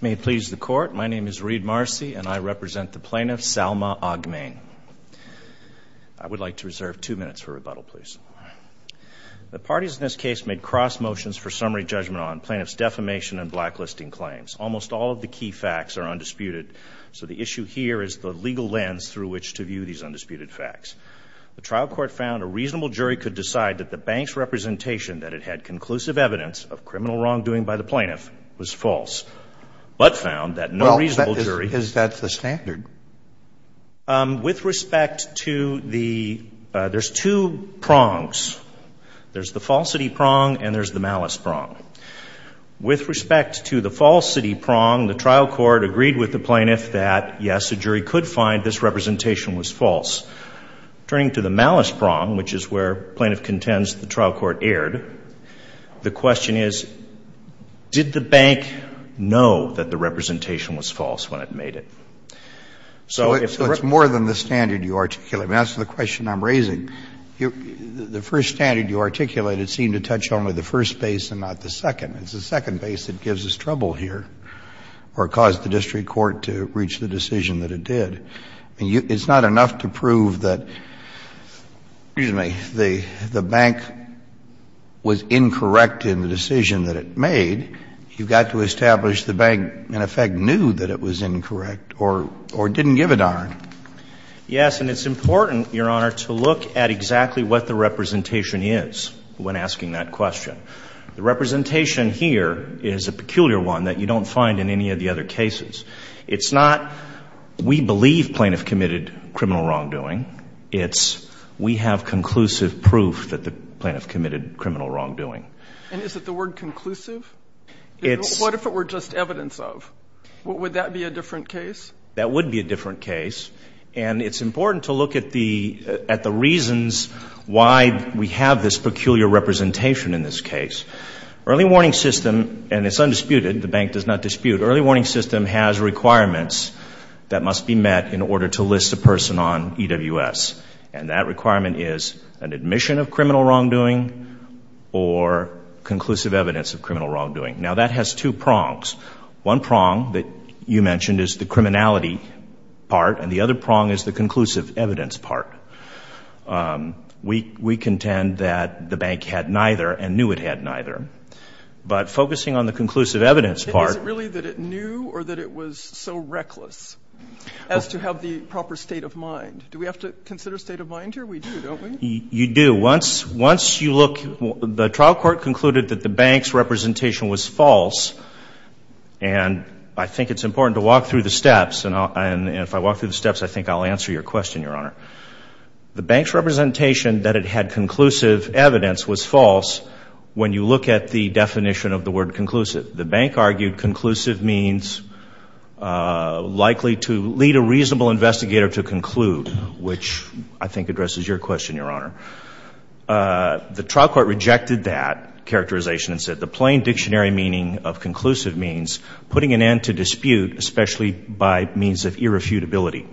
May it please the Court, my name is Reed Marcy and I represent the plaintiff, Salma Aghmane. I would like to reserve two minutes for rebuttal, please. The parties in this case made cross motions for summary judgment on plaintiff's defamation and blacklisting claims. Almost all of the key facts are undisputed, so the issue here is the legal lens through which to view these undisputed facts. The trial court found a reasonable jury could decide that the bank's representation that had conclusive evidence of criminal wrongdoing by the plaintiff was false, but found that no reasonable jury Well, is that the standard? With respect to the, there's two prongs. There's the falsity prong and there's the malice prong. With respect to the falsity prong, the trial court agreed with the plaintiff that, yes, a jury could find this representation was false. Turning to the malice prong, which is where plaintiff contends the trial court erred, the question is, did the bank know that the representation was false when it made it? So if the So it's more than the standard you articulate. I mean, as to the question I'm raising, the first standard you articulated seemed to touch only the first base and not the second. It's the second base that gives us trouble here or caused the district court to reach the decision that it did. I mean, it's not enough to prove that, excuse me, the bank was incorrect in the decision that it made. You've got to establish the bank, in effect, knew that it was incorrect or didn't give a darn. Yes, and it's important, Your Honor, to look at exactly what the representation is when asking that question. The representation here is a peculiar one that you don't find in any of the other cases. It's not we believe plaintiff committed criminal wrongdoing. It's we have conclusive proof that the plaintiff committed criminal wrongdoing. And is it the word conclusive? It's What if it were just evidence of? Would that be a different case? That would be a different case. And it's important to look at the reasons why we have this peculiar representation in this case. Early warning system, and it's undisputed, the bank does not dispute, early warning system has requirements that must be met in order to list a person on EWS. And that requirement is an admission of criminal wrongdoing or conclusive evidence of criminal wrongdoing. Now, that has two prongs. One prong that you mentioned is the criminality part, and the other prong is the conclusive evidence part. We contend that the bank had neither and knew it had neither. But focusing on the conclusive evidence part. Is it really that it knew or that it was so reckless as to have the proper state of mind? Do we have to consider state of mind here? We do, don't we? You do. Once you look, the trial court concluded that the bank's representation was false. And I think it's important to walk through the steps. And if I walk through the steps, I think I'll answer your question, Your Honor. The bank's representation that it had conclusive evidence was false. When you look at the definition of the word conclusive, the bank argued conclusive means likely to lead a reasonable investigator to conclude, which I think addresses your question, Your Honor. The trial court rejected that characterization and said the plain dictionary meaning of conclusive means putting an end to dispute, especially by means of irrefutability.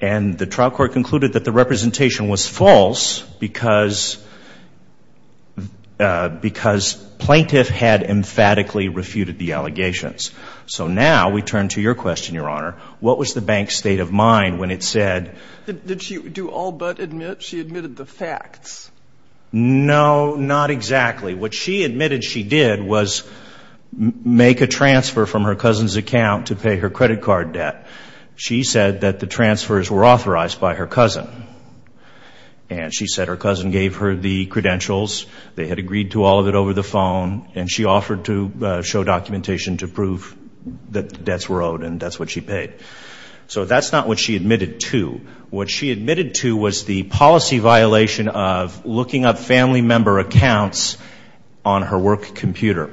And the trial court concluded that the representation was false because plaintiff had emphatically refuted the allegations. So now we turn to your question, Your Honor. What was the bank's state of mind when it said- Did she do all but admit? She admitted the facts. No, not exactly. What she admitted she did was make a transfer from her cousin's account to pay her credit card debt. She said that the transfers were authorized by her cousin. And she said her cousin gave her the credentials. They had agreed to all of it over the phone. And she offered to show documentation to prove that the debts were owed and that's what she paid. So that's not what she admitted to. What she admitted to was the policy violation of looking up family member accounts on her work computer.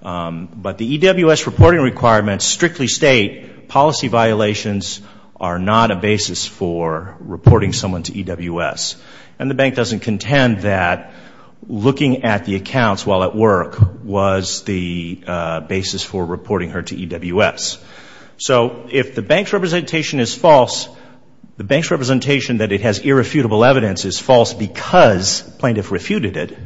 But the EWS reporting requirements strictly state policy violations are not a basis for reporting someone to EWS. And the bank doesn't contend that looking at the accounts while at work was the basis for reporting her to EWS. So if the bank's representation is false, the bank's representation that it has irrefutable evidence is false because plaintiff refuted it.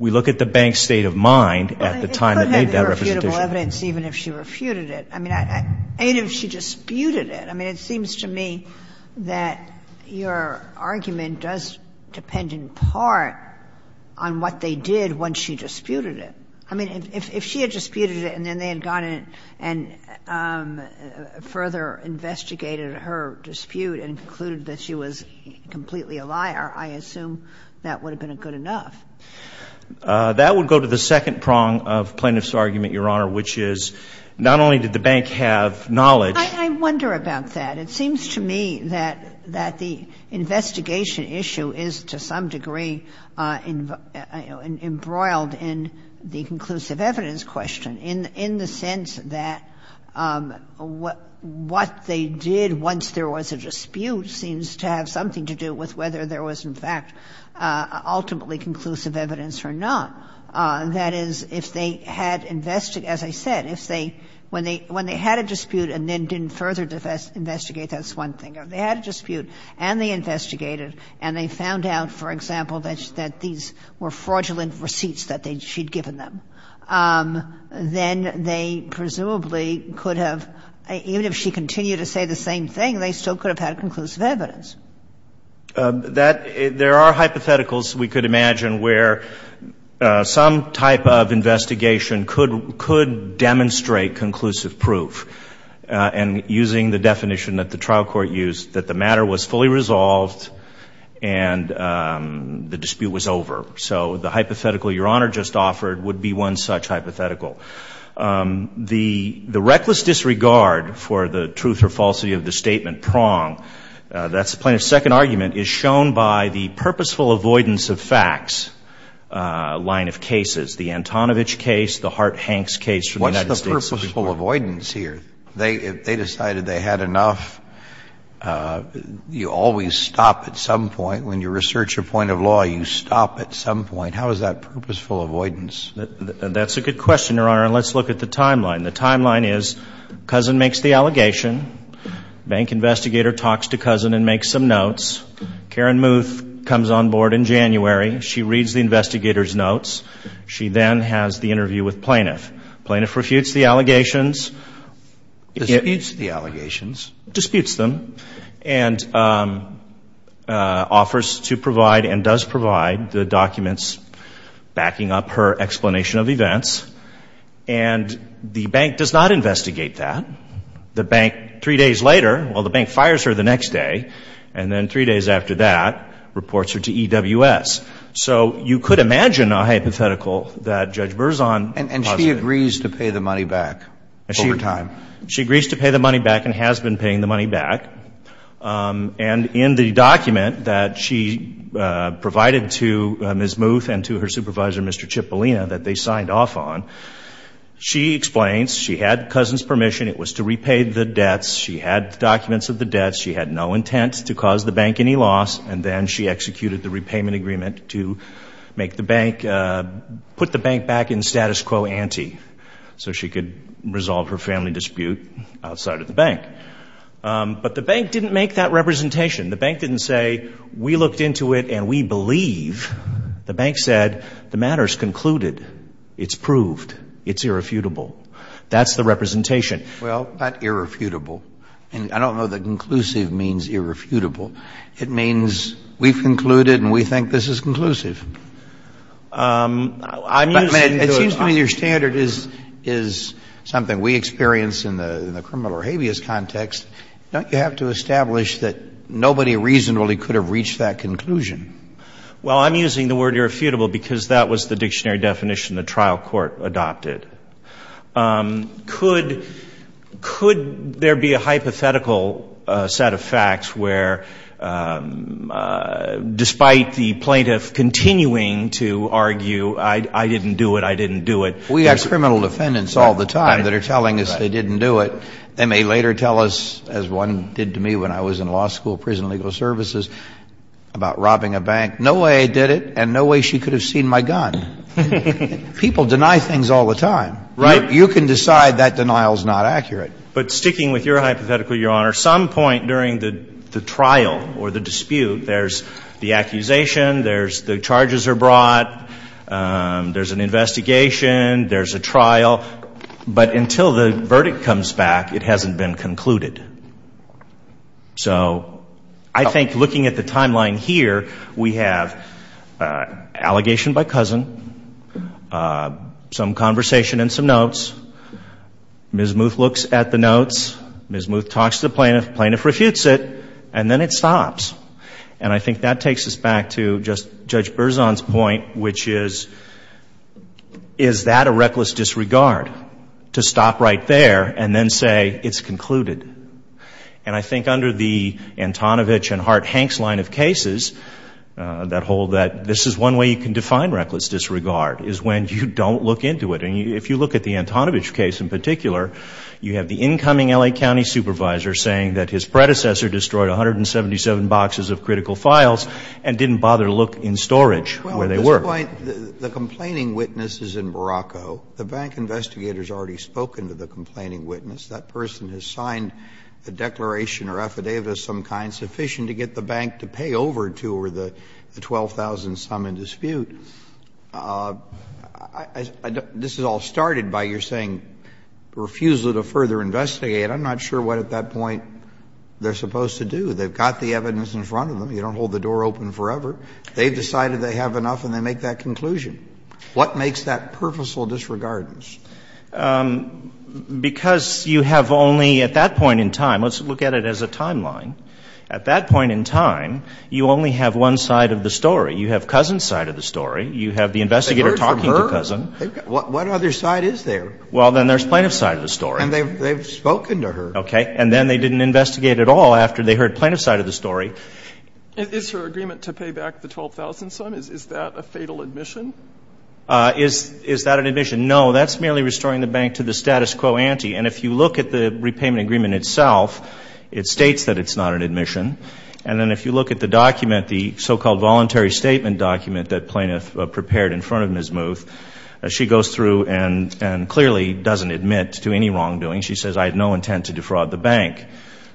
We look at the bank's state of mind at the time that made that representation. Irrefutable evidence even if she refuted it. I mean, even if she disputed it. I mean, it seems to me that your argument does depend in part on what they did when she disputed it. I mean, if she had disputed it and then they had gone in and further investigated her dispute and concluded that she was completely a liar, I assume that would have been good enough. That would go to the second prong of plaintiff's argument, Your Honor, which is not only did the bank have knowledge. I wonder about that. It seems to me that the investigation issue is to some degree embroiled in the conclusive evidence question in the sense that what they did once there was a dispute seems to have something to do with whether there was, in fact, ultimately conclusive evidence or not. That is, if they had, as I said, if they, when they had a dispute and then didn't further investigate, that's one thing. If they had a dispute and they investigated and they found out, for example, that these were fraudulent receipts that she'd given them, then they presumably could have, even if she continued to say the same thing, they still could have had conclusive evidence. There are hypotheticals, we could imagine, where some type of investigation could demonstrate conclusive proof, and using the definition that the trial court used, that the matter was fully resolved and the dispute was over. So the hypothetical Your Honor just offered would be one such hypothetical. The reckless disregard for the truth or falsity of the statement prong, that's one of the hypotheticals. The other hypothetical is that the plaintiff's second argument is shown by the purposeful avoidance of facts line of cases, the Antonovich case, the Hart-Hanks case from the United States Supreme Court. What's the purposeful avoidance here? They decided they had enough, you always stop at some point, when you research a point of law, you stop at some point. How is that purposeful avoidance? That's a good question, Your Honor, and let's look at the timeline. The timeline is, Cousin makes the allegation, bank investigator talks to Cousin and makes some notes, Karen Muth comes on board in January, she reads the investigator's notes, she then has the interview with plaintiff. Plaintiff refutes the allegations. Disputes the allegations. Disputes them, and offers to provide and does provide the documents backing up her explanation of events, and the bank does not investigate that. The bank, three days later, well, the bank fires her the next day, and then three days after that, reports her to EWS. So you could imagine a hypothetical that Judge Berzon And she agrees to pay the money back over time. She agrees to pay the money back and has been paying the money back, and in the document that she provided to Ms. Muth and to her supervisor, Mr. Cipollina, that they signed off on, she explains she had Cousin's permission, it was to repay the debts, she had documents of the debts, she had no intent to cause the bank any loss, and then she executed the repayment agreement to make the bank, put the bank back in status quo ante, so she could resolve her family dispute outside of the bank. But the bank didn't make that representation. The bank didn't say, we looked into it and we believe, the bank said, the matter's concluded, it's proved, it's irrefutable. That's the representation. Well, not irrefutable. And I don't know that conclusive means irrefutable. It means we've concluded and we think this is conclusive. I mean, it seems to me your standard is something we experience in the criminal or somebody reasonably could have reached that conclusion. Well, I'm using the word irrefutable because that was the dictionary definition the trial court adopted. Could there be a hypothetical set of facts where, despite the plaintiff continuing to argue I didn't do it, I didn't do it. We have criminal defendants all the time that are telling us they didn't do it. They may later tell us, as one did to me when I was in law school, prison legal services, about robbing a bank, no way I did it and no way she could have seen my gun. People deny things all the time. Right. You can decide that denial's not accurate. But sticking with your hypothetical, Your Honor, some point during the trial or the dispute, there's the accusation, there's the charges are brought, there's an investigation, there's a trial. But until the verdict comes back, it hasn't been concluded. So I think looking at the timeline here, we have allegation by cousin, some conversation and some notes. Ms. Muth looks at the notes. Ms. Muth talks to the plaintiff. Plaintiff refutes it. And then it stops. And I think that takes us back to just Judge Berzon's point, which is, is that a reckless disregard to stop right there and then say it's concluded? And I think under the Antonovich and Hart-Hanks line of cases that hold that this is one way you can define reckless disregard is when you don't look into it. And if you look at the Antonovich case in particular, you have the incoming L.A. County supervisor saying that his predecessor destroyed 177 boxes of critical files and didn't bother to look in storage where they were. The complaint, the complaining witness is in Morocco. The bank investigator has already spoken to the complaining witness. That person has signed the declaration or affidavit of some kind sufficient to get the bank to pay over to or the 12,000-some in dispute. This is all started by your saying refusal to further investigate. I'm not sure what at that point they're supposed to do. They've got the evidence in front of them. You don't hold the door open forever. They've decided they have enough and they make that conclusion. What makes that purposeful disregard? Because you have only at that point in time, let's look at it as a timeline. At that point in time, you only have one side of the story. You have Cousin's side of the story. You have the investigator talking to Cousin. They've heard from her. What other side is there? Well, then there's Plaintiff's side of the story. And they've spoken to her. And then they didn't investigate at all after they heard Plaintiff's side of the story. Is her agreement to pay back the 12,000-some, is that a fatal admission? Is that an admission? No, that's merely restoring the bank to the status quo ante. And if you look at the repayment agreement itself, it states that it's not an admission. And then if you look at the document, the so-called voluntary statement document that Plaintiff prepared in front of Ms. Muth, she goes through and clearly doesn't admit to any wrongdoing. She says, I had no intent to defraud the bank.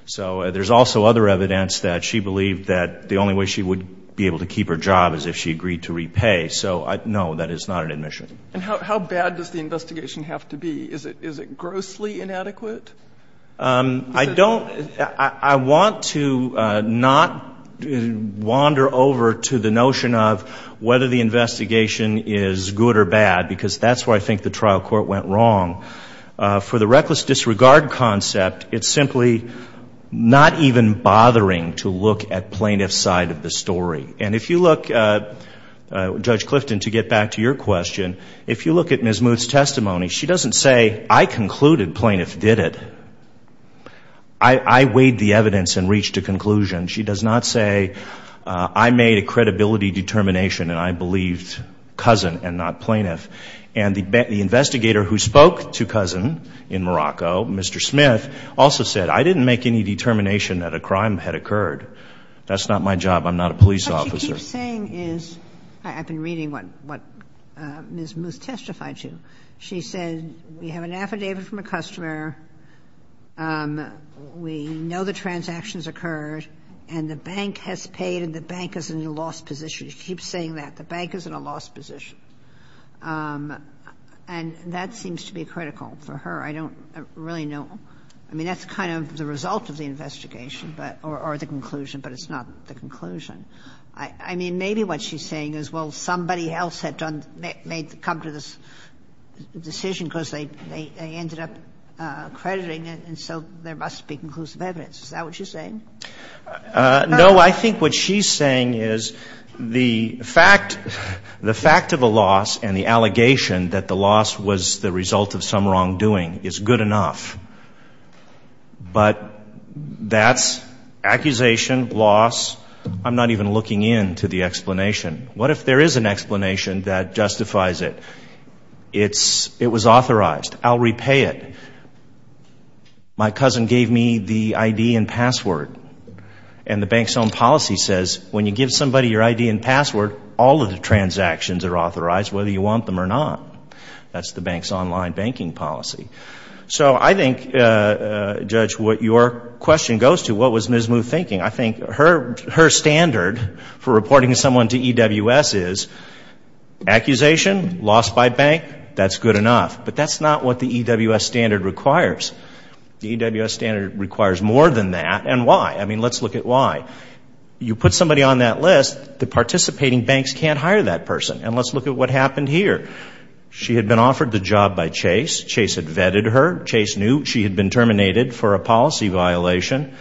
So there's also other evidence that she believed that the only way she would be able to keep her job is if she agreed to repay. So, no, that is not an admission. And how bad does the investigation have to be? Is it grossly inadequate? I don't, I want to not wander over to the notion of whether the investigation is good or bad, because that's where I think the trial court went wrong. For the reckless disregard concept, it's simply not even bothering to look at Plaintiff's side of the story. And if you look, Judge Clifton, to get back to your question, if you look at Ms. Muth's testimony, she doesn't say, I concluded Plaintiff did it. I weighed the evidence and reached a conclusion. She does not say, I made a credibility determination and I believed Cousin and not Plaintiff. And the investigator who spoke to Cousin in Morocco, Mr. Smith, also said, I didn't make any determination that a crime had occurred. That's not my job. I'm not a police officer. What she keeps saying is, I've been reading what Ms. Muth testified to. She said, we have an affidavit from a customer, we know the transactions occurred and the bank has paid and the bank is in a lost position. She keeps saying that. The bank is in a lost position. And that seems to be critical for her. I don't really know. I mean, that's kind of the result of the investigation or the conclusion, but it's not the conclusion. I mean, maybe what she's saying is, well, somebody else had come to this decision because they ended up crediting it and so there must be conclusive evidence. Is that what she's saying? No, I think what she's saying is the fact of the loss and the allegation that the loss was the result of some wrongdoing is good enough. But that's accusation, loss. I'm not even looking into the explanation. What if there is an explanation that justifies it? It was authorized. I'll repay it. My cousin gave me the ID and password and the bank's own policy says when you give somebody your ID and password, all of the transactions are authorized whether you want them or not. That's the bank's online banking policy. So I think, Judge, what your question goes to, what was Ms. Moo thinking? I think her standard for reporting someone to EWS is accusation, lost by bank, that's good enough. But that's not what the EWS standard requires. The EWS standard requires more than that. And why? I mean, let's look at why. You put somebody on that list, the participating banks can't hire that person. And let's look at what happened here. She had been offered the job by Chase. Chase had vetted her. Chase knew she had been terminated for a policy violation.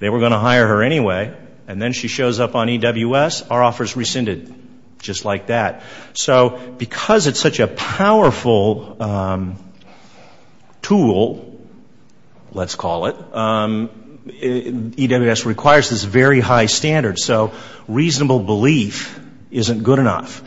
They were going to hire her anyway. And then she shows up on EWS, our offers rescinded just like that. So because it's such a powerful tool, let's call it, EWS requires this very high standard. So reasonable belief isn't good enough.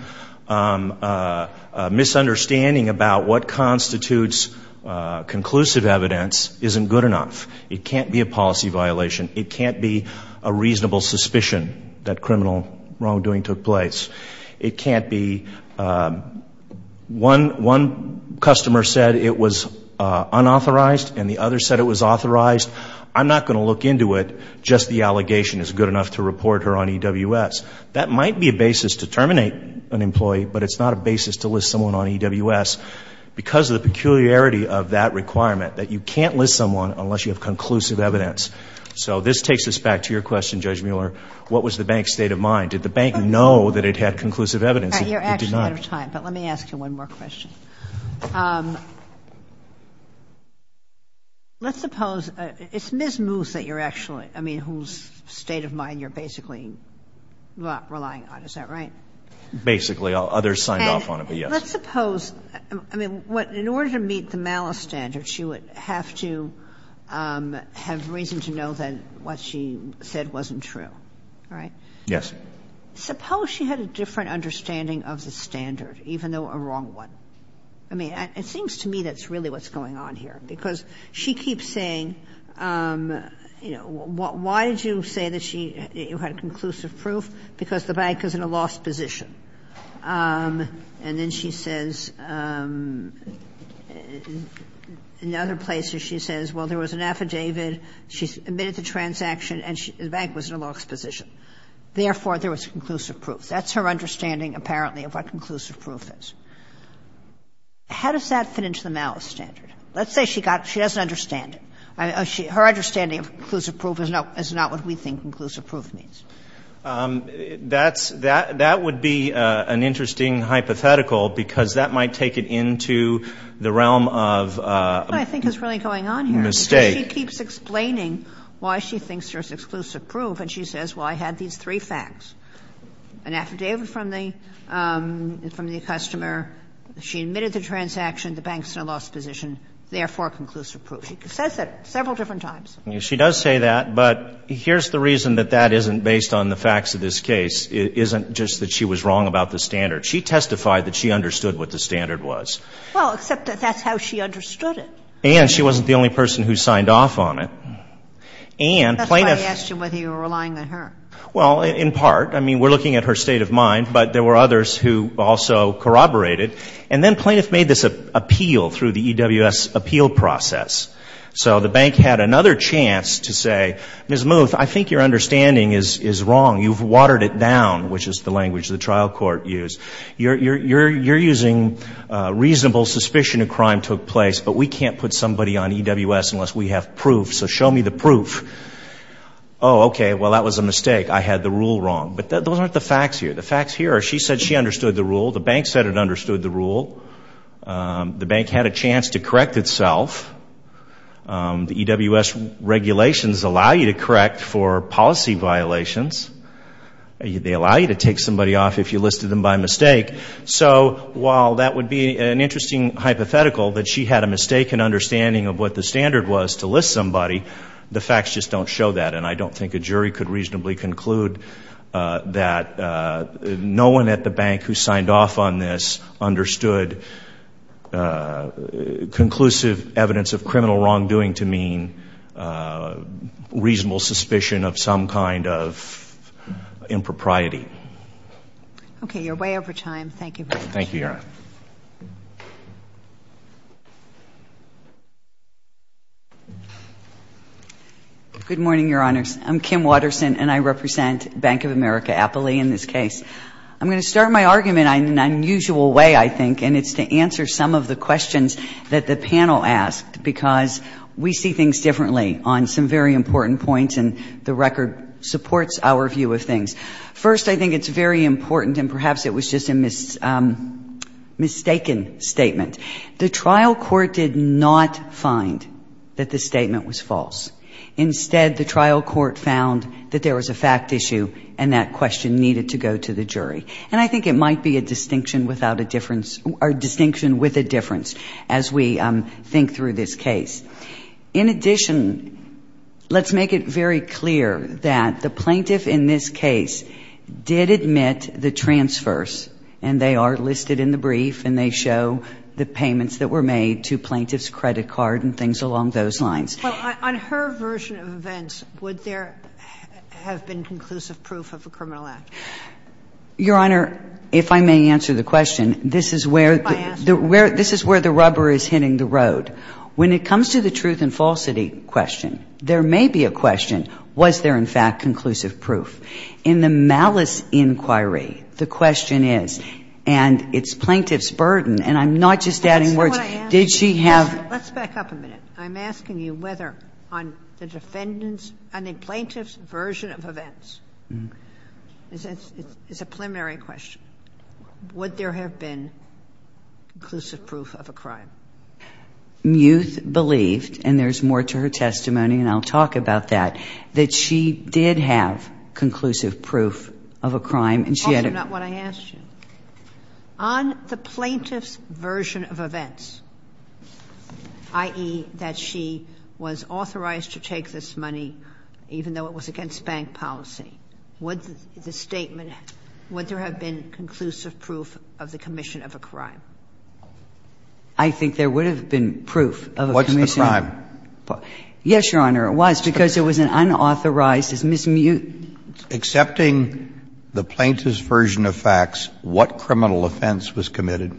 Misunderstanding about what constitutes conclusive evidence isn't good enough. It can't be a policy violation. It can't be a reasonable suspicion that criminal wrongdoing took place. It can't be one customer said it was unauthorized and the other said it was authorized. I'm not going to look into it. Just the allegation is good enough to report her on EWS. That might be a basis to terminate an employee, but it's not a basis to list someone on EWS because of the peculiarity of that requirement, that you can't list someone unless you have conclusive evidence. So this takes us back to your question, Judge Mueller. What was the bank's state of mind? Did the bank know that it had conclusive evidence? It did not. You're actually out of time, but let me ask you one more question. Let's suppose, it's Ms. Moose that you're actually, I mean, whose state of mind you're basically not relying on, is that right? Basically. Others signed off on it, but yes. Let's suppose, I mean, what, in order to meet the malice standard, she would have to have reason to know that what she said wasn't true, right? Yes. Suppose she had a different understanding of the standard, even though a wrong one. I mean, it seems to me that's really what's going on here, because she keeps saying, you know, why did you say that she had conclusive proof? Because the bank is in a lost position. And then she says, in other places, she says, well, there was an affidavit, she submitted the transaction, and the bank was in a lost position. Therefore, there was conclusive proof. That's her understanding, apparently, of what conclusive proof is. How does that fit into the malice standard? Let's say she doesn't understand it. Her understanding of conclusive proof is not what we think conclusive proof means. That's, that would be an interesting hypothetical, because that might take it into the realm of a mistake. What I think is really going on here is that she keeps explaining why she thinks there's exclusive proof, and she says, well, I had these three facts, an affidavit from the, from the customer, she admitted the transaction, the bank's in a lost position, therefore conclusive proof. She says that several different times. She does say that, but here's the reason that that isn't based on the facts of this case. It isn't just that she was wrong about the standard. She testified that she understood what the standard was. Well, except that that's how she understood it. And she wasn't the only person who signed off on it. And plaintiff. That's why I asked you whether you were relying on her. Well, in part. I mean, we're looking at her state of mind, but there were others who also corroborated. And then plaintiff made this appeal through the EWS appeal process. So the bank had another chance to say, Ms. Muth, I think your understanding is, is wrong. You've watered it down, which is the language the trial court used. You're, you're, you're, you're using reasonable suspicion of crime took place, but we can't put somebody on EWS unless we have proof. So show me the proof. Oh, okay. Well, that was a mistake. I had the rule wrong. But those aren't the facts here. The facts here are she said she understood the rule. The bank said it understood the rule. The bank had a chance to correct itself. The EWS regulations allow you to correct for policy violations. They allow you to take somebody off if you listed them by mistake. So while that would be an interesting hypothetical that she had a mistaken understanding of what the standard was to list somebody, the facts just don't show that. And I don't think a jury could reasonably conclude that no one at the bank who signed off on this understood conclusive evidence of criminal wrongdoing to mean reasonable suspicion of some kind of impropriety. Okay. You're way over time. Thank you very much. Thank you, Your Honor. Good morning, Your Honors. I'm Kim Watterson, and I represent Bank of America, Appley, in this case. I'm going to start my argument in an unusual way, I think, and it's to answer some of the questions that the panel asked, because we see things differently on some very important points, and the record supports our view of things. First, I think it's very important, and perhaps it was just a mistaken statement. The trial court did not find that the statement was false. Instead, the trial court found that there was a fact issue and that question needed to go to the jury. And I think it might be a distinction without a difference, or a distinction with a difference, as we think through this case. In addition, let's make it very clear that the plaintiff in this case did admit the payments that were made to plaintiff's credit card and things along those lines. Well, on her version of events, would there have been conclusive proof of a criminal act? Your Honor, if I may answer the question, this is where the rubber is hitting the road. When it comes to the truth and falsity question, there may be a question, was there, in fact, conclusive proof? In the malice inquiry, the question is, and it's plaintiff's burden, and I'm not just adding words, did she have Let's back up a minute. I'm asking you whether, on the defendant's, on the plaintiff's version of events, it's a preliminary question, would there have been conclusive proof of a crime? Muth believed, and there's more to her testimony, and I'll talk about that, that she did have conclusive proof of a crime, and she had a Also, not what I asked you. On the plaintiff's version of events, i.e., that she was authorized to take this money even though it was against bank policy, would the statement, would there have been conclusive proof of the commission of a crime? I think there would have been proof of a commission of a crime. What's the crime? Yes, Your Honor, it was, because it was an unauthorized, it's mismute. Accepting the plaintiff's version of facts, what criminal offense was committed?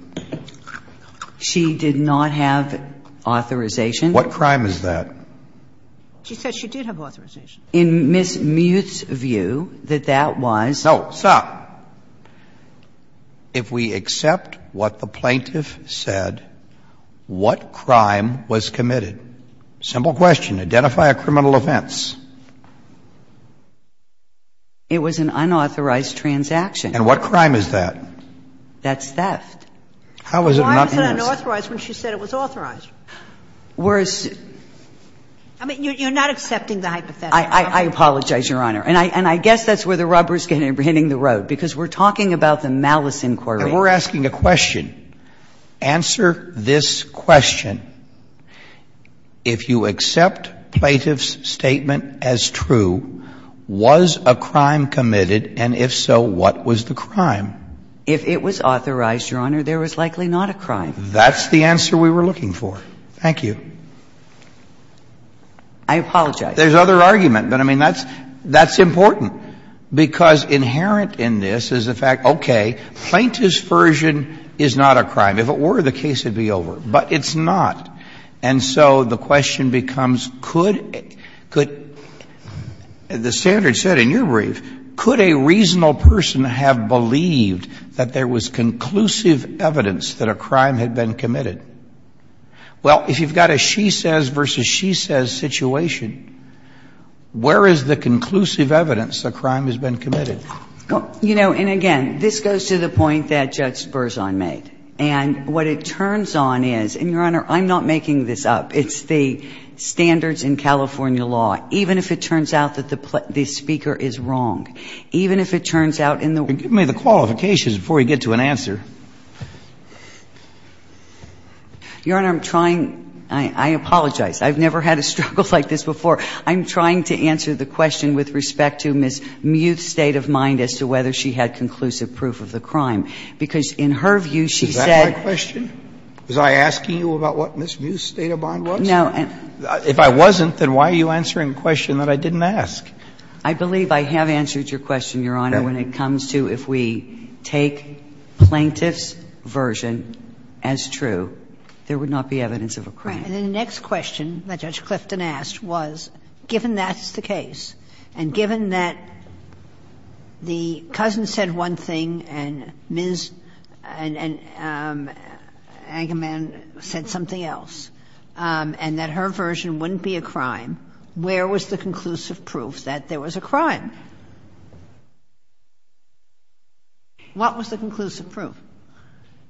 She did not have authorization. What crime is that? She said she did have authorization. In Ms. Muth's view, that that was. No, stop. If we accept what the plaintiff said, what crime was committed? Simple question. Identify a criminal offense. It was an unauthorized transaction. And what crime is that? That's theft. How is it not? Why was it unauthorized when she said it was authorized? Whereas. I mean, you're not accepting the hypothetical. I apologize, Your Honor. And I guess that's where the rubber's getting, hitting the road, because we're talking about the malice inquiry. And we're asking a question. Answer this question. If you accept plaintiff's statement as true, was a crime committed? And if so, what was the crime? If it was authorized, Your Honor, there was likely not a crime. That's the answer we were looking for. Thank you. I apologize. There's other argument, but I mean, that's important, because inherent in this is the fact, okay, plaintiff's version is not a crime. If it were, the case would be over. But it's not. And so the question becomes, could the standard set in your brief, could a reasonable person have believed that there was conclusive evidence that a crime had been committed? Well, if you've got a she says versus she says situation, where is the conclusive evidence a crime has been committed? You know, and again, this goes to the point that Judge Berzon made. And what it turns on is, and, Your Honor, I'm not making this up. It's the standards in California law. Even if it turns out that the speaker is wrong, even if it turns out in the way that the plaintiff's statement is true, there is a conclusive evidence that a crime has been committed. And so the question is, is that my question? Is that my question? Is that my question? Was I asking you about what Ms. Musedatabond was? No. If I wasn't, then why are you answering a question that I didn't ask? I believe I have answered your question, Your Honor, when it comes to if we take plaintiff's version as true, there would not be evidence of a crime. Right. And the next question that Judge Clifton asked was, given that's the case, and given that the cousin said one thing, and Ms. Angeman said something else, and that her version wouldn't be a crime, where was the conclusive proof that there was a crime? What was the conclusive proof?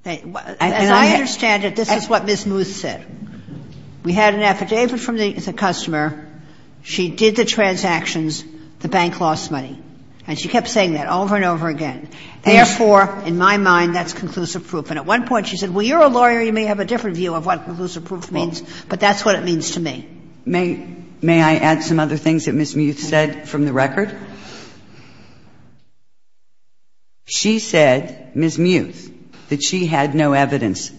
As I understand it, this is what Ms. Musedatabond said. We had an affidavit from the customer. She did the transactions. The bank lost money. And she kept saying that over and over again. Therefore, in my mind, that's conclusive proof. And at one point she said, well, you're a lawyer. You may have a different view of what conclusive proof means. But that's what it means to me. May I add some other things that Ms. Musedatabond said from the record? She said, Ms. Musedatabond, that she had no evidence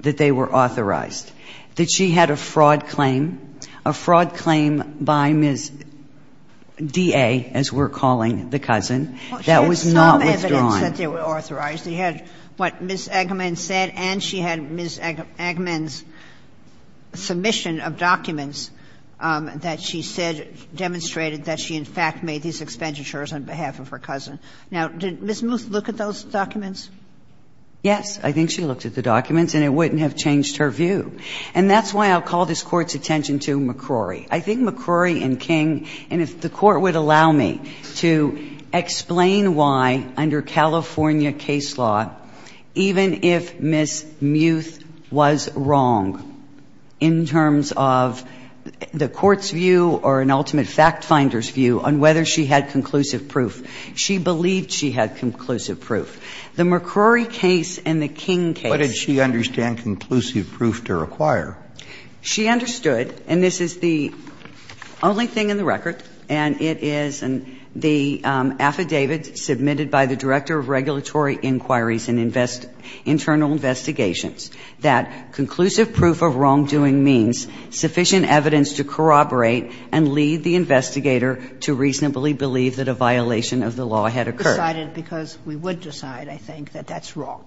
that they were authorized. That she had a fraud claim. A fraud claim by Ms. D.A., as we're calling the cousin, that was not withdrawn. Well, she had some evidence that they were authorized. She had what Ms. Angeman said, and she had Ms. Angeman's submission of documents that she said demonstrated that she, in fact, made these expenditures on behalf of her cousin. Now, did Ms. Musedatabond look at those documents? Yes. I think she looked at the documents, and it wouldn't have changed her view. And that's why I'll call this Court's attention to McCrory. I think McCrory and King, and if the Court would allow me to explain why, under California case law, even if Ms. Muth was wrong in terms of the Court's view or an ultimate fact-finder's view on whether she had conclusive proof, she believed she had conclusive proof. The McCrory case and the King case. What did she understand conclusive proof to require? She understood, and this is the only thing in the record, and it is the affidavit submitted by the Director of Regulatory Inquiries and Internal Investigations that conclusive proof of wrongdoing means sufficient evidence to corroborate and lead the investigator to reasonably believe that a violation of the law had occurred. We decided because we would decide, I think, that that's wrong.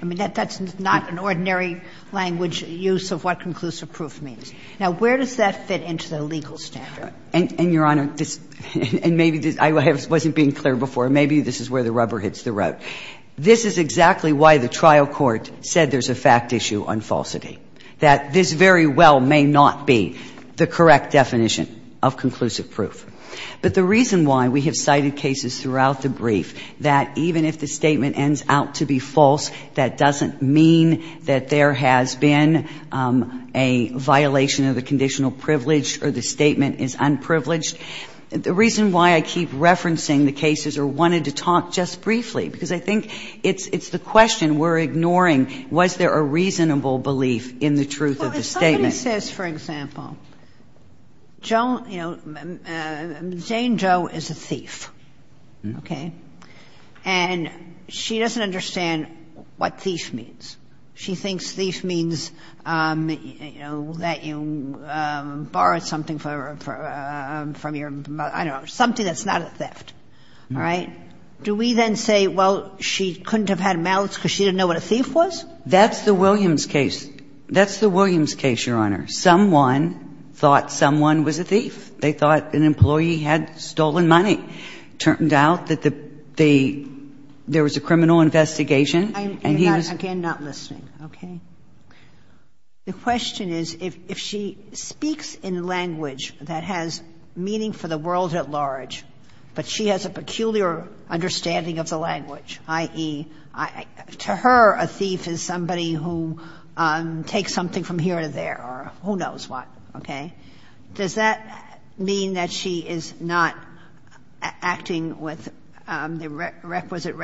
I mean, that's not an ordinary language use of what conclusive proof means. Now, where does that fit into the legal standard? And, Your Honor, this — and maybe this — I wasn't being clear before. Maybe this is where the rubber hits the road. This is exactly why the trial court said there's a fact issue on falsity, that this very well may not be the correct definition of conclusive proof. But the reason why we have cited cases throughout the brief that even if the statement ends out to be false, that doesn't mean that there has been a violation of the conditional privilege or the statement is unprivileged, the reason why I keep referencing the cases or wanted to talk just briefly, because I think it's the question we're ignoring, was there a reasonable belief in the truth of the statement. Well, if somebody says, for example, Joan — you know, Jane Jo is a thief, okay? And she doesn't understand what thief means. She thinks thief means, you know, that you borrowed something from your — I don't know, something that's not a theft. All right? Do we then say, well, she couldn't have had a malice because she didn't know what a thief was? That's the Williams case. That's the Williams case, Your Honor. Someone thought someone was a thief. They thought an employee had stolen money. It turned out that the — there was a criminal investigation, and he was — I'm, again, not listening, okay? The question is, if she speaks in language that has meaning for the world at large, but she has a peculiar understanding of the language, i.e., to her a thief is somebody who takes something from here to there or who knows what, okay? Does that mean that she is not acting with the requisite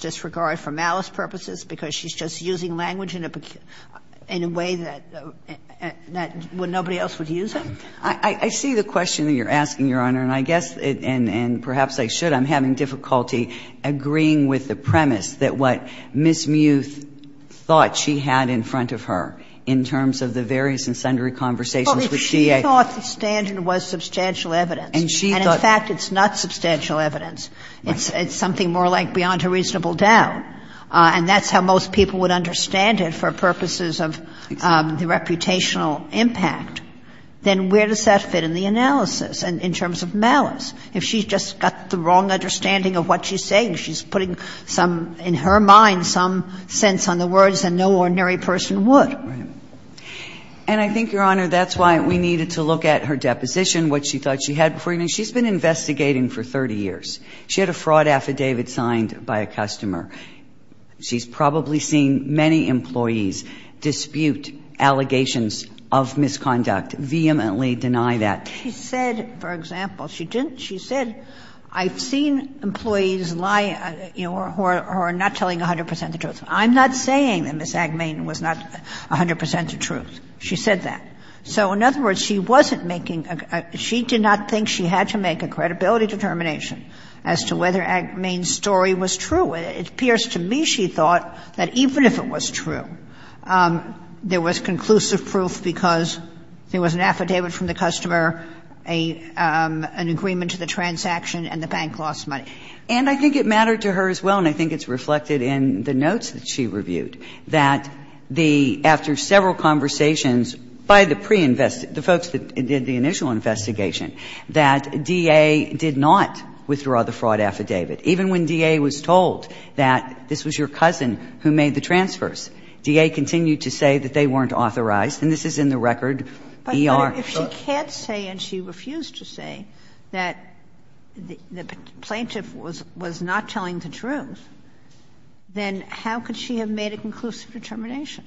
disregard for malice purposes because she's just using language in a way that nobody else would use it? I see the question that you're asking, Your Honor, and I guess, and perhaps I should, I'm having difficulty agreeing with the premise that what Ms. Muth thought she had in front of her in terms of the various and sundry conversations with D.A. Well, if she thought the standard was substantial evidence, and, in fact, it's not substantial evidence, it's something more like beyond a reasonable doubt, and that's how most people would understand it for purposes of the reputational impact, then where does that fit in the analysis in terms of malice? If she's just got the wrong understanding of what she's saying, she's putting some, in her mind, some sense on the words that no ordinary person would. And I think, Your Honor, that's why we needed to look at her deposition, what she thought she had before, and she's been investigating for 30 years. She had a fraud affidavit signed by a customer. She's probably seen many employees dispute allegations of misconduct, vehemently deny that. She said, for example, she didn't, she said, I've seen employees lie, who are not telling 100% the truth. I'm not saying that Ms. Agmain was not 100% the truth. She said that. So, in other words, she wasn't making a, she did not think she had to make a credibility determination as to whether Agmain's story was true. It appears to me, she thought, that even if it was true, there was conclusive proof because there was an affidavit from the customer, an agreement to the transaction, and the bank lost money. And I think it mattered to her as well, and I think it's reflected in the notes that she reviewed, that the, after several conversations by the pre-invest, the folks that did the initial investigation, that DA did not withdraw the fraud affidavit. Even when DA was told that this was your cousin who made the transfers, DA continued to say that they weren't authorized, and this is in the record, ER. Sotomayor, if she can't say, and she refused to say, that the plaintiff was not telling the truth, then how could she have made a conclusive determination?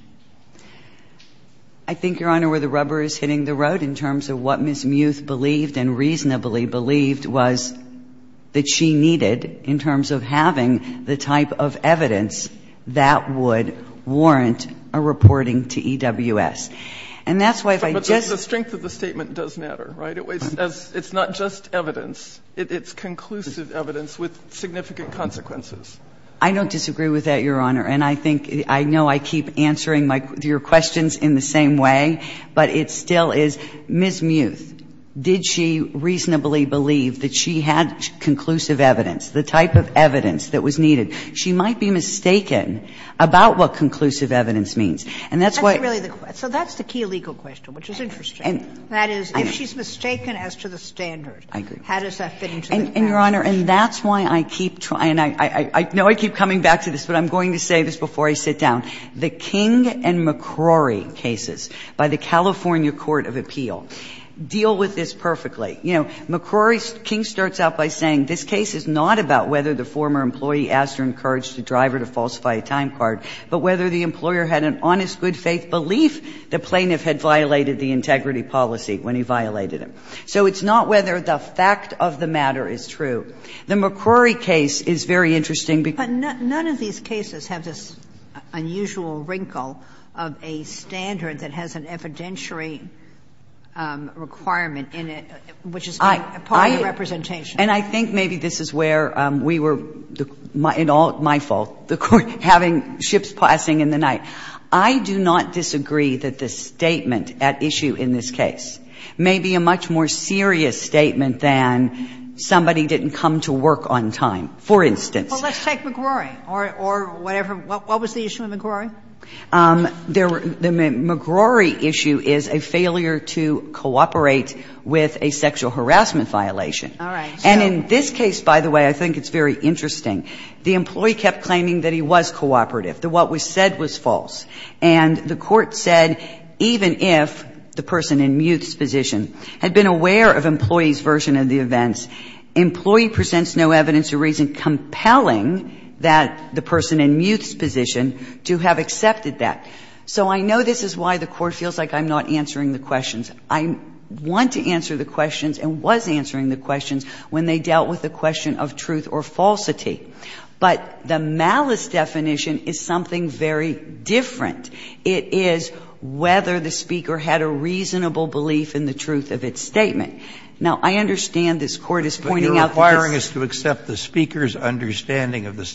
I think, Your Honor, where the rubber is hitting the road in terms of what Ms. Muth believed and reasonably believed was that she needed in terms of having the type of evidence that would warrant a reporting to EWS. And that's why if I just say the statement does matter, right? It's not just evidence. It's conclusive evidence with significant consequences. I don't disagree with that, Your Honor. And I think, I know I keep answering your questions in the same way, but it still is, Ms. Muth, did she reasonably believe that she had conclusive evidence, the type of evidence that was needed? She might be mistaken about what conclusive evidence means. And that's why. So that's the key legal question, which is interesting. That is, if she's mistaken as to the standard, how does that fit into the question? And, Your Honor, and that's why I keep trying, and I know I keep coming back to this, but I'm going to say this before I sit down. The King and McCrory cases by the California court of appeal deal with this perfectly. You know, McCrory's King starts out by saying this case is not about whether the former employee asked or encouraged the driver to falsify a time card, but whether the employer had an honest, good-faith belief the plaintiff had violated the integrity policy when he violated it. So it's not whether the fact of the matter is true. The McCrory case is very interesting. But none of these cases have this unusual wrinkle of a standard that has an evidentiary requirement in it, which is part of the representation. And I think maybe this is where we were, in all my fault, the court having ships passing in the night. I do not disagree that the statement at issue in this case may be a much more serious statement than somebody didn't come to work on time, for instance. Well, let's take McCrory or whatever. What was the issue with McCrory? The McCrory issue is a failure to cooperate with a sexual harassment violation. All right. And in this case, by the way, I think it's very interesting. The employee kept claiming that he was cooperative, that what was said was false. And the Court said even if the person in Muth's position had been aware of employee's version of the events, employee presents no evidence or reason compelling that the person in Muth's position to have accepted that. So I know this is why the Court feels like I'm not answering the questions. I want to answer the questions and was answering the questions when they dealt with the question of truth or falsity. But the malice definition is something very different. It is whether the speaker had a reasonable belief in the truth of its statement. Now, I understand this Court is pointing out that it's the case that the employee was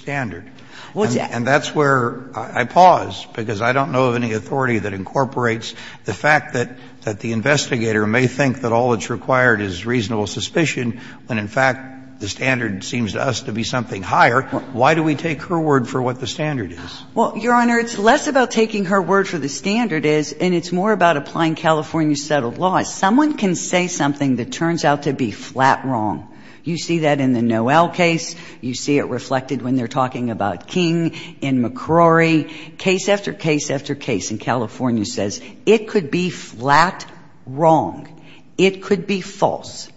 cooperative. And that's where I pause, because I don't know of any authority that incorporates the fact that the investigator may think that all that's required is reasonable suspicion when, in fact, the standard seems to us to be something higher. Why do we take her word for what the standard is? Well, Your Honor, it's less about taking her word for the standard is, and it's more about applying California's settled laws. Someone can say something that turns out to be flat wrong. You see that in the Noel case. You see it reflected when they're talking about King in McCrory. Case after case after case in California says it could be flat wrong. It could be false.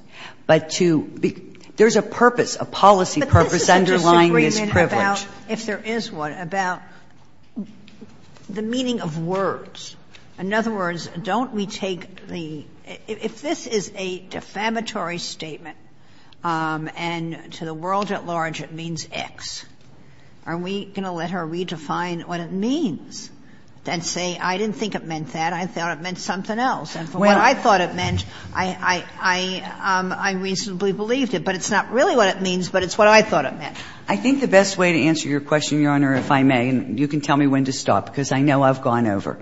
But to be – there's a purpose, a policy purpose underlying this privilege. But this is a disagreement about, if there is one, about the meaning of words. In other words, don't we take the – if this is a defamatory statement, and to the world at large it means X, are we going to let her redefine what it means and say, I didn't think it meant that, I thought it meant something else? And for what I thought it meant, I reasonably believed it. But it's not really what it means, but it's what I thought it meant. I think the best way to answer your question, Your Honor, if I may, and you can tell me when to stop, because I know I've gone over.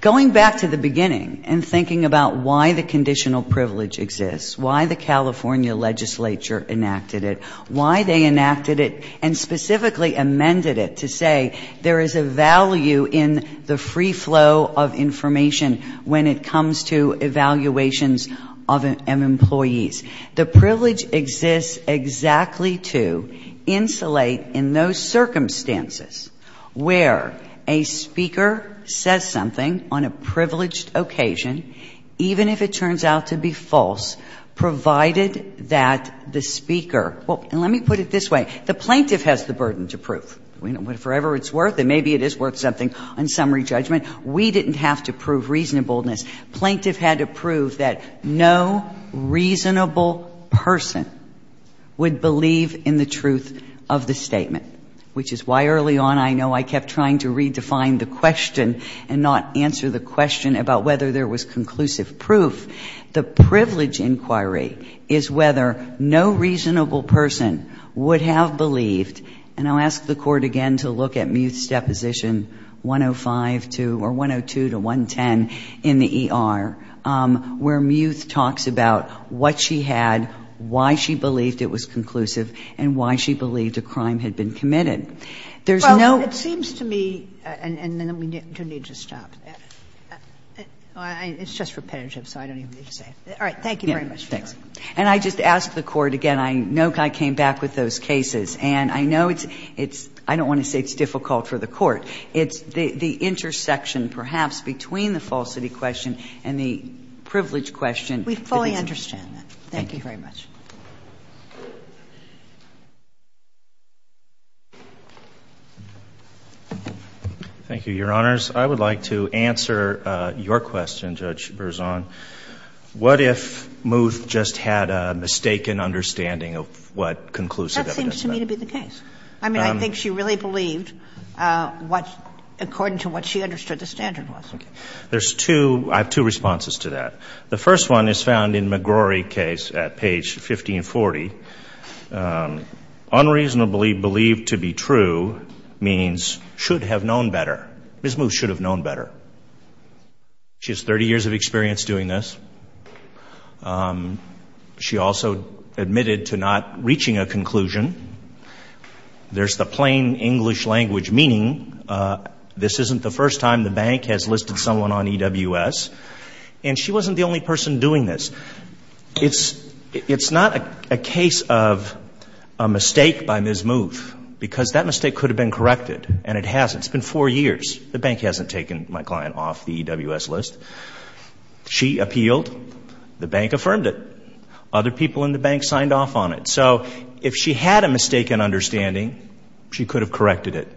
Going back to the beginning and thinking about why the conditional privilege exists, why the California legislature enacted it, why they enacted it and specifically amended it to say there is a value in the free flow of information when it comes to evaluations of employees. The privilege exists exactly to insulate in those circumstances where a speaker says something on a privileged occasion, even if it turns out to be false, provided that the speaker – well, let me put it this way. The plaintiff has the burden to prove. Whatever it's worth, and maybe it is worth something on summary judgment, we didn't have to prove reasonableness. Plaintiff had to prove that no reasonable person would believe in the truth of the statement, which is why early on I know I kept trying to redefine the question and not answer the question about whether there was conclusive proof. The privilege inquiry is whether no reasonable person would have believed, and I'll ask the Court again to look at Muth's deposition, 105 to – or 102 to 110 in the ER, where Muth talks about what she had, why she believed it was conclusive, and why she believed a crime had been committed. There's no – It's just repetitive, so I don't even need to say it. All right. Thank you very much, Your Honor. And I just ask the Court again. I know I came back with those cases, and I know it's – I don't want to say it's difficult for the Court. It's the intersection, perhaps, between the falsity question and the privilege question. We fully understand that. Thank you very much. Thank you, Your Honors. I would like to answer your question, Judge Berzon. What if Muth just had a mistaken understanding of what conclusive evidence meant? That seems to me to be the case. I mean, I think she really believed what – according to what she understood the standard was. Okay. There's two – I have two responses to that. The first one is found in McGrory's case at page 1540. Unreasonably believed to be true means should have known better. Ms. Muth should have known better. She has 30 years of experience doing this. She also admitted to not reaching a conclusion. There's the plain English language meaning. This isn't the first time the bank has listed someone on EWS. And she wasn't the only person doing this. It's not a case of a mistake by Ms. Muth because that mistake could have been corrected and it hasn't. It's been four years. The bank hasn't taken my client off the EWS list. She appealed. The bank affirmed it. Other people in the bank signed off on it. So if she had a mistaken understanding, she could have corrected it.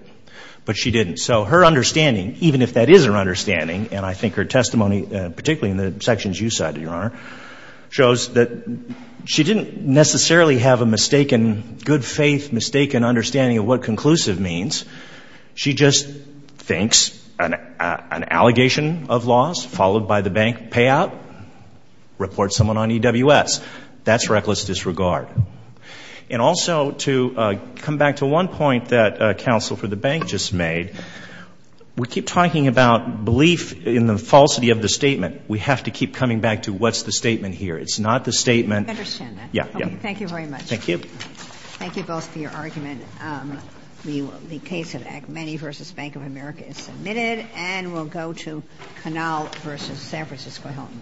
But she didn't. So her understanding, even if that is her understanding, and I think her testimony, particularly in the sections you cited, Your Honor, shows that she didn't necessarily have a mistaken, good faith, mistaken understanding of what conclusive means. She just thinks an allegation of loss followed by the bank payout reports someone on EWS. That's reckless disregard. And also, to come back to one point that Counsel for the Bank just made, we keep talking about belief in the falsity of the statement. We have to keep coming back to what's the statement here. It's not the statement. I understand that. Yeah, yeah. Thank you very much. Thank you. Thank you both for your argument. The case of Agmeni v. Bank of America is submitted, and we'll go to Canale v. San Francisco Hilton.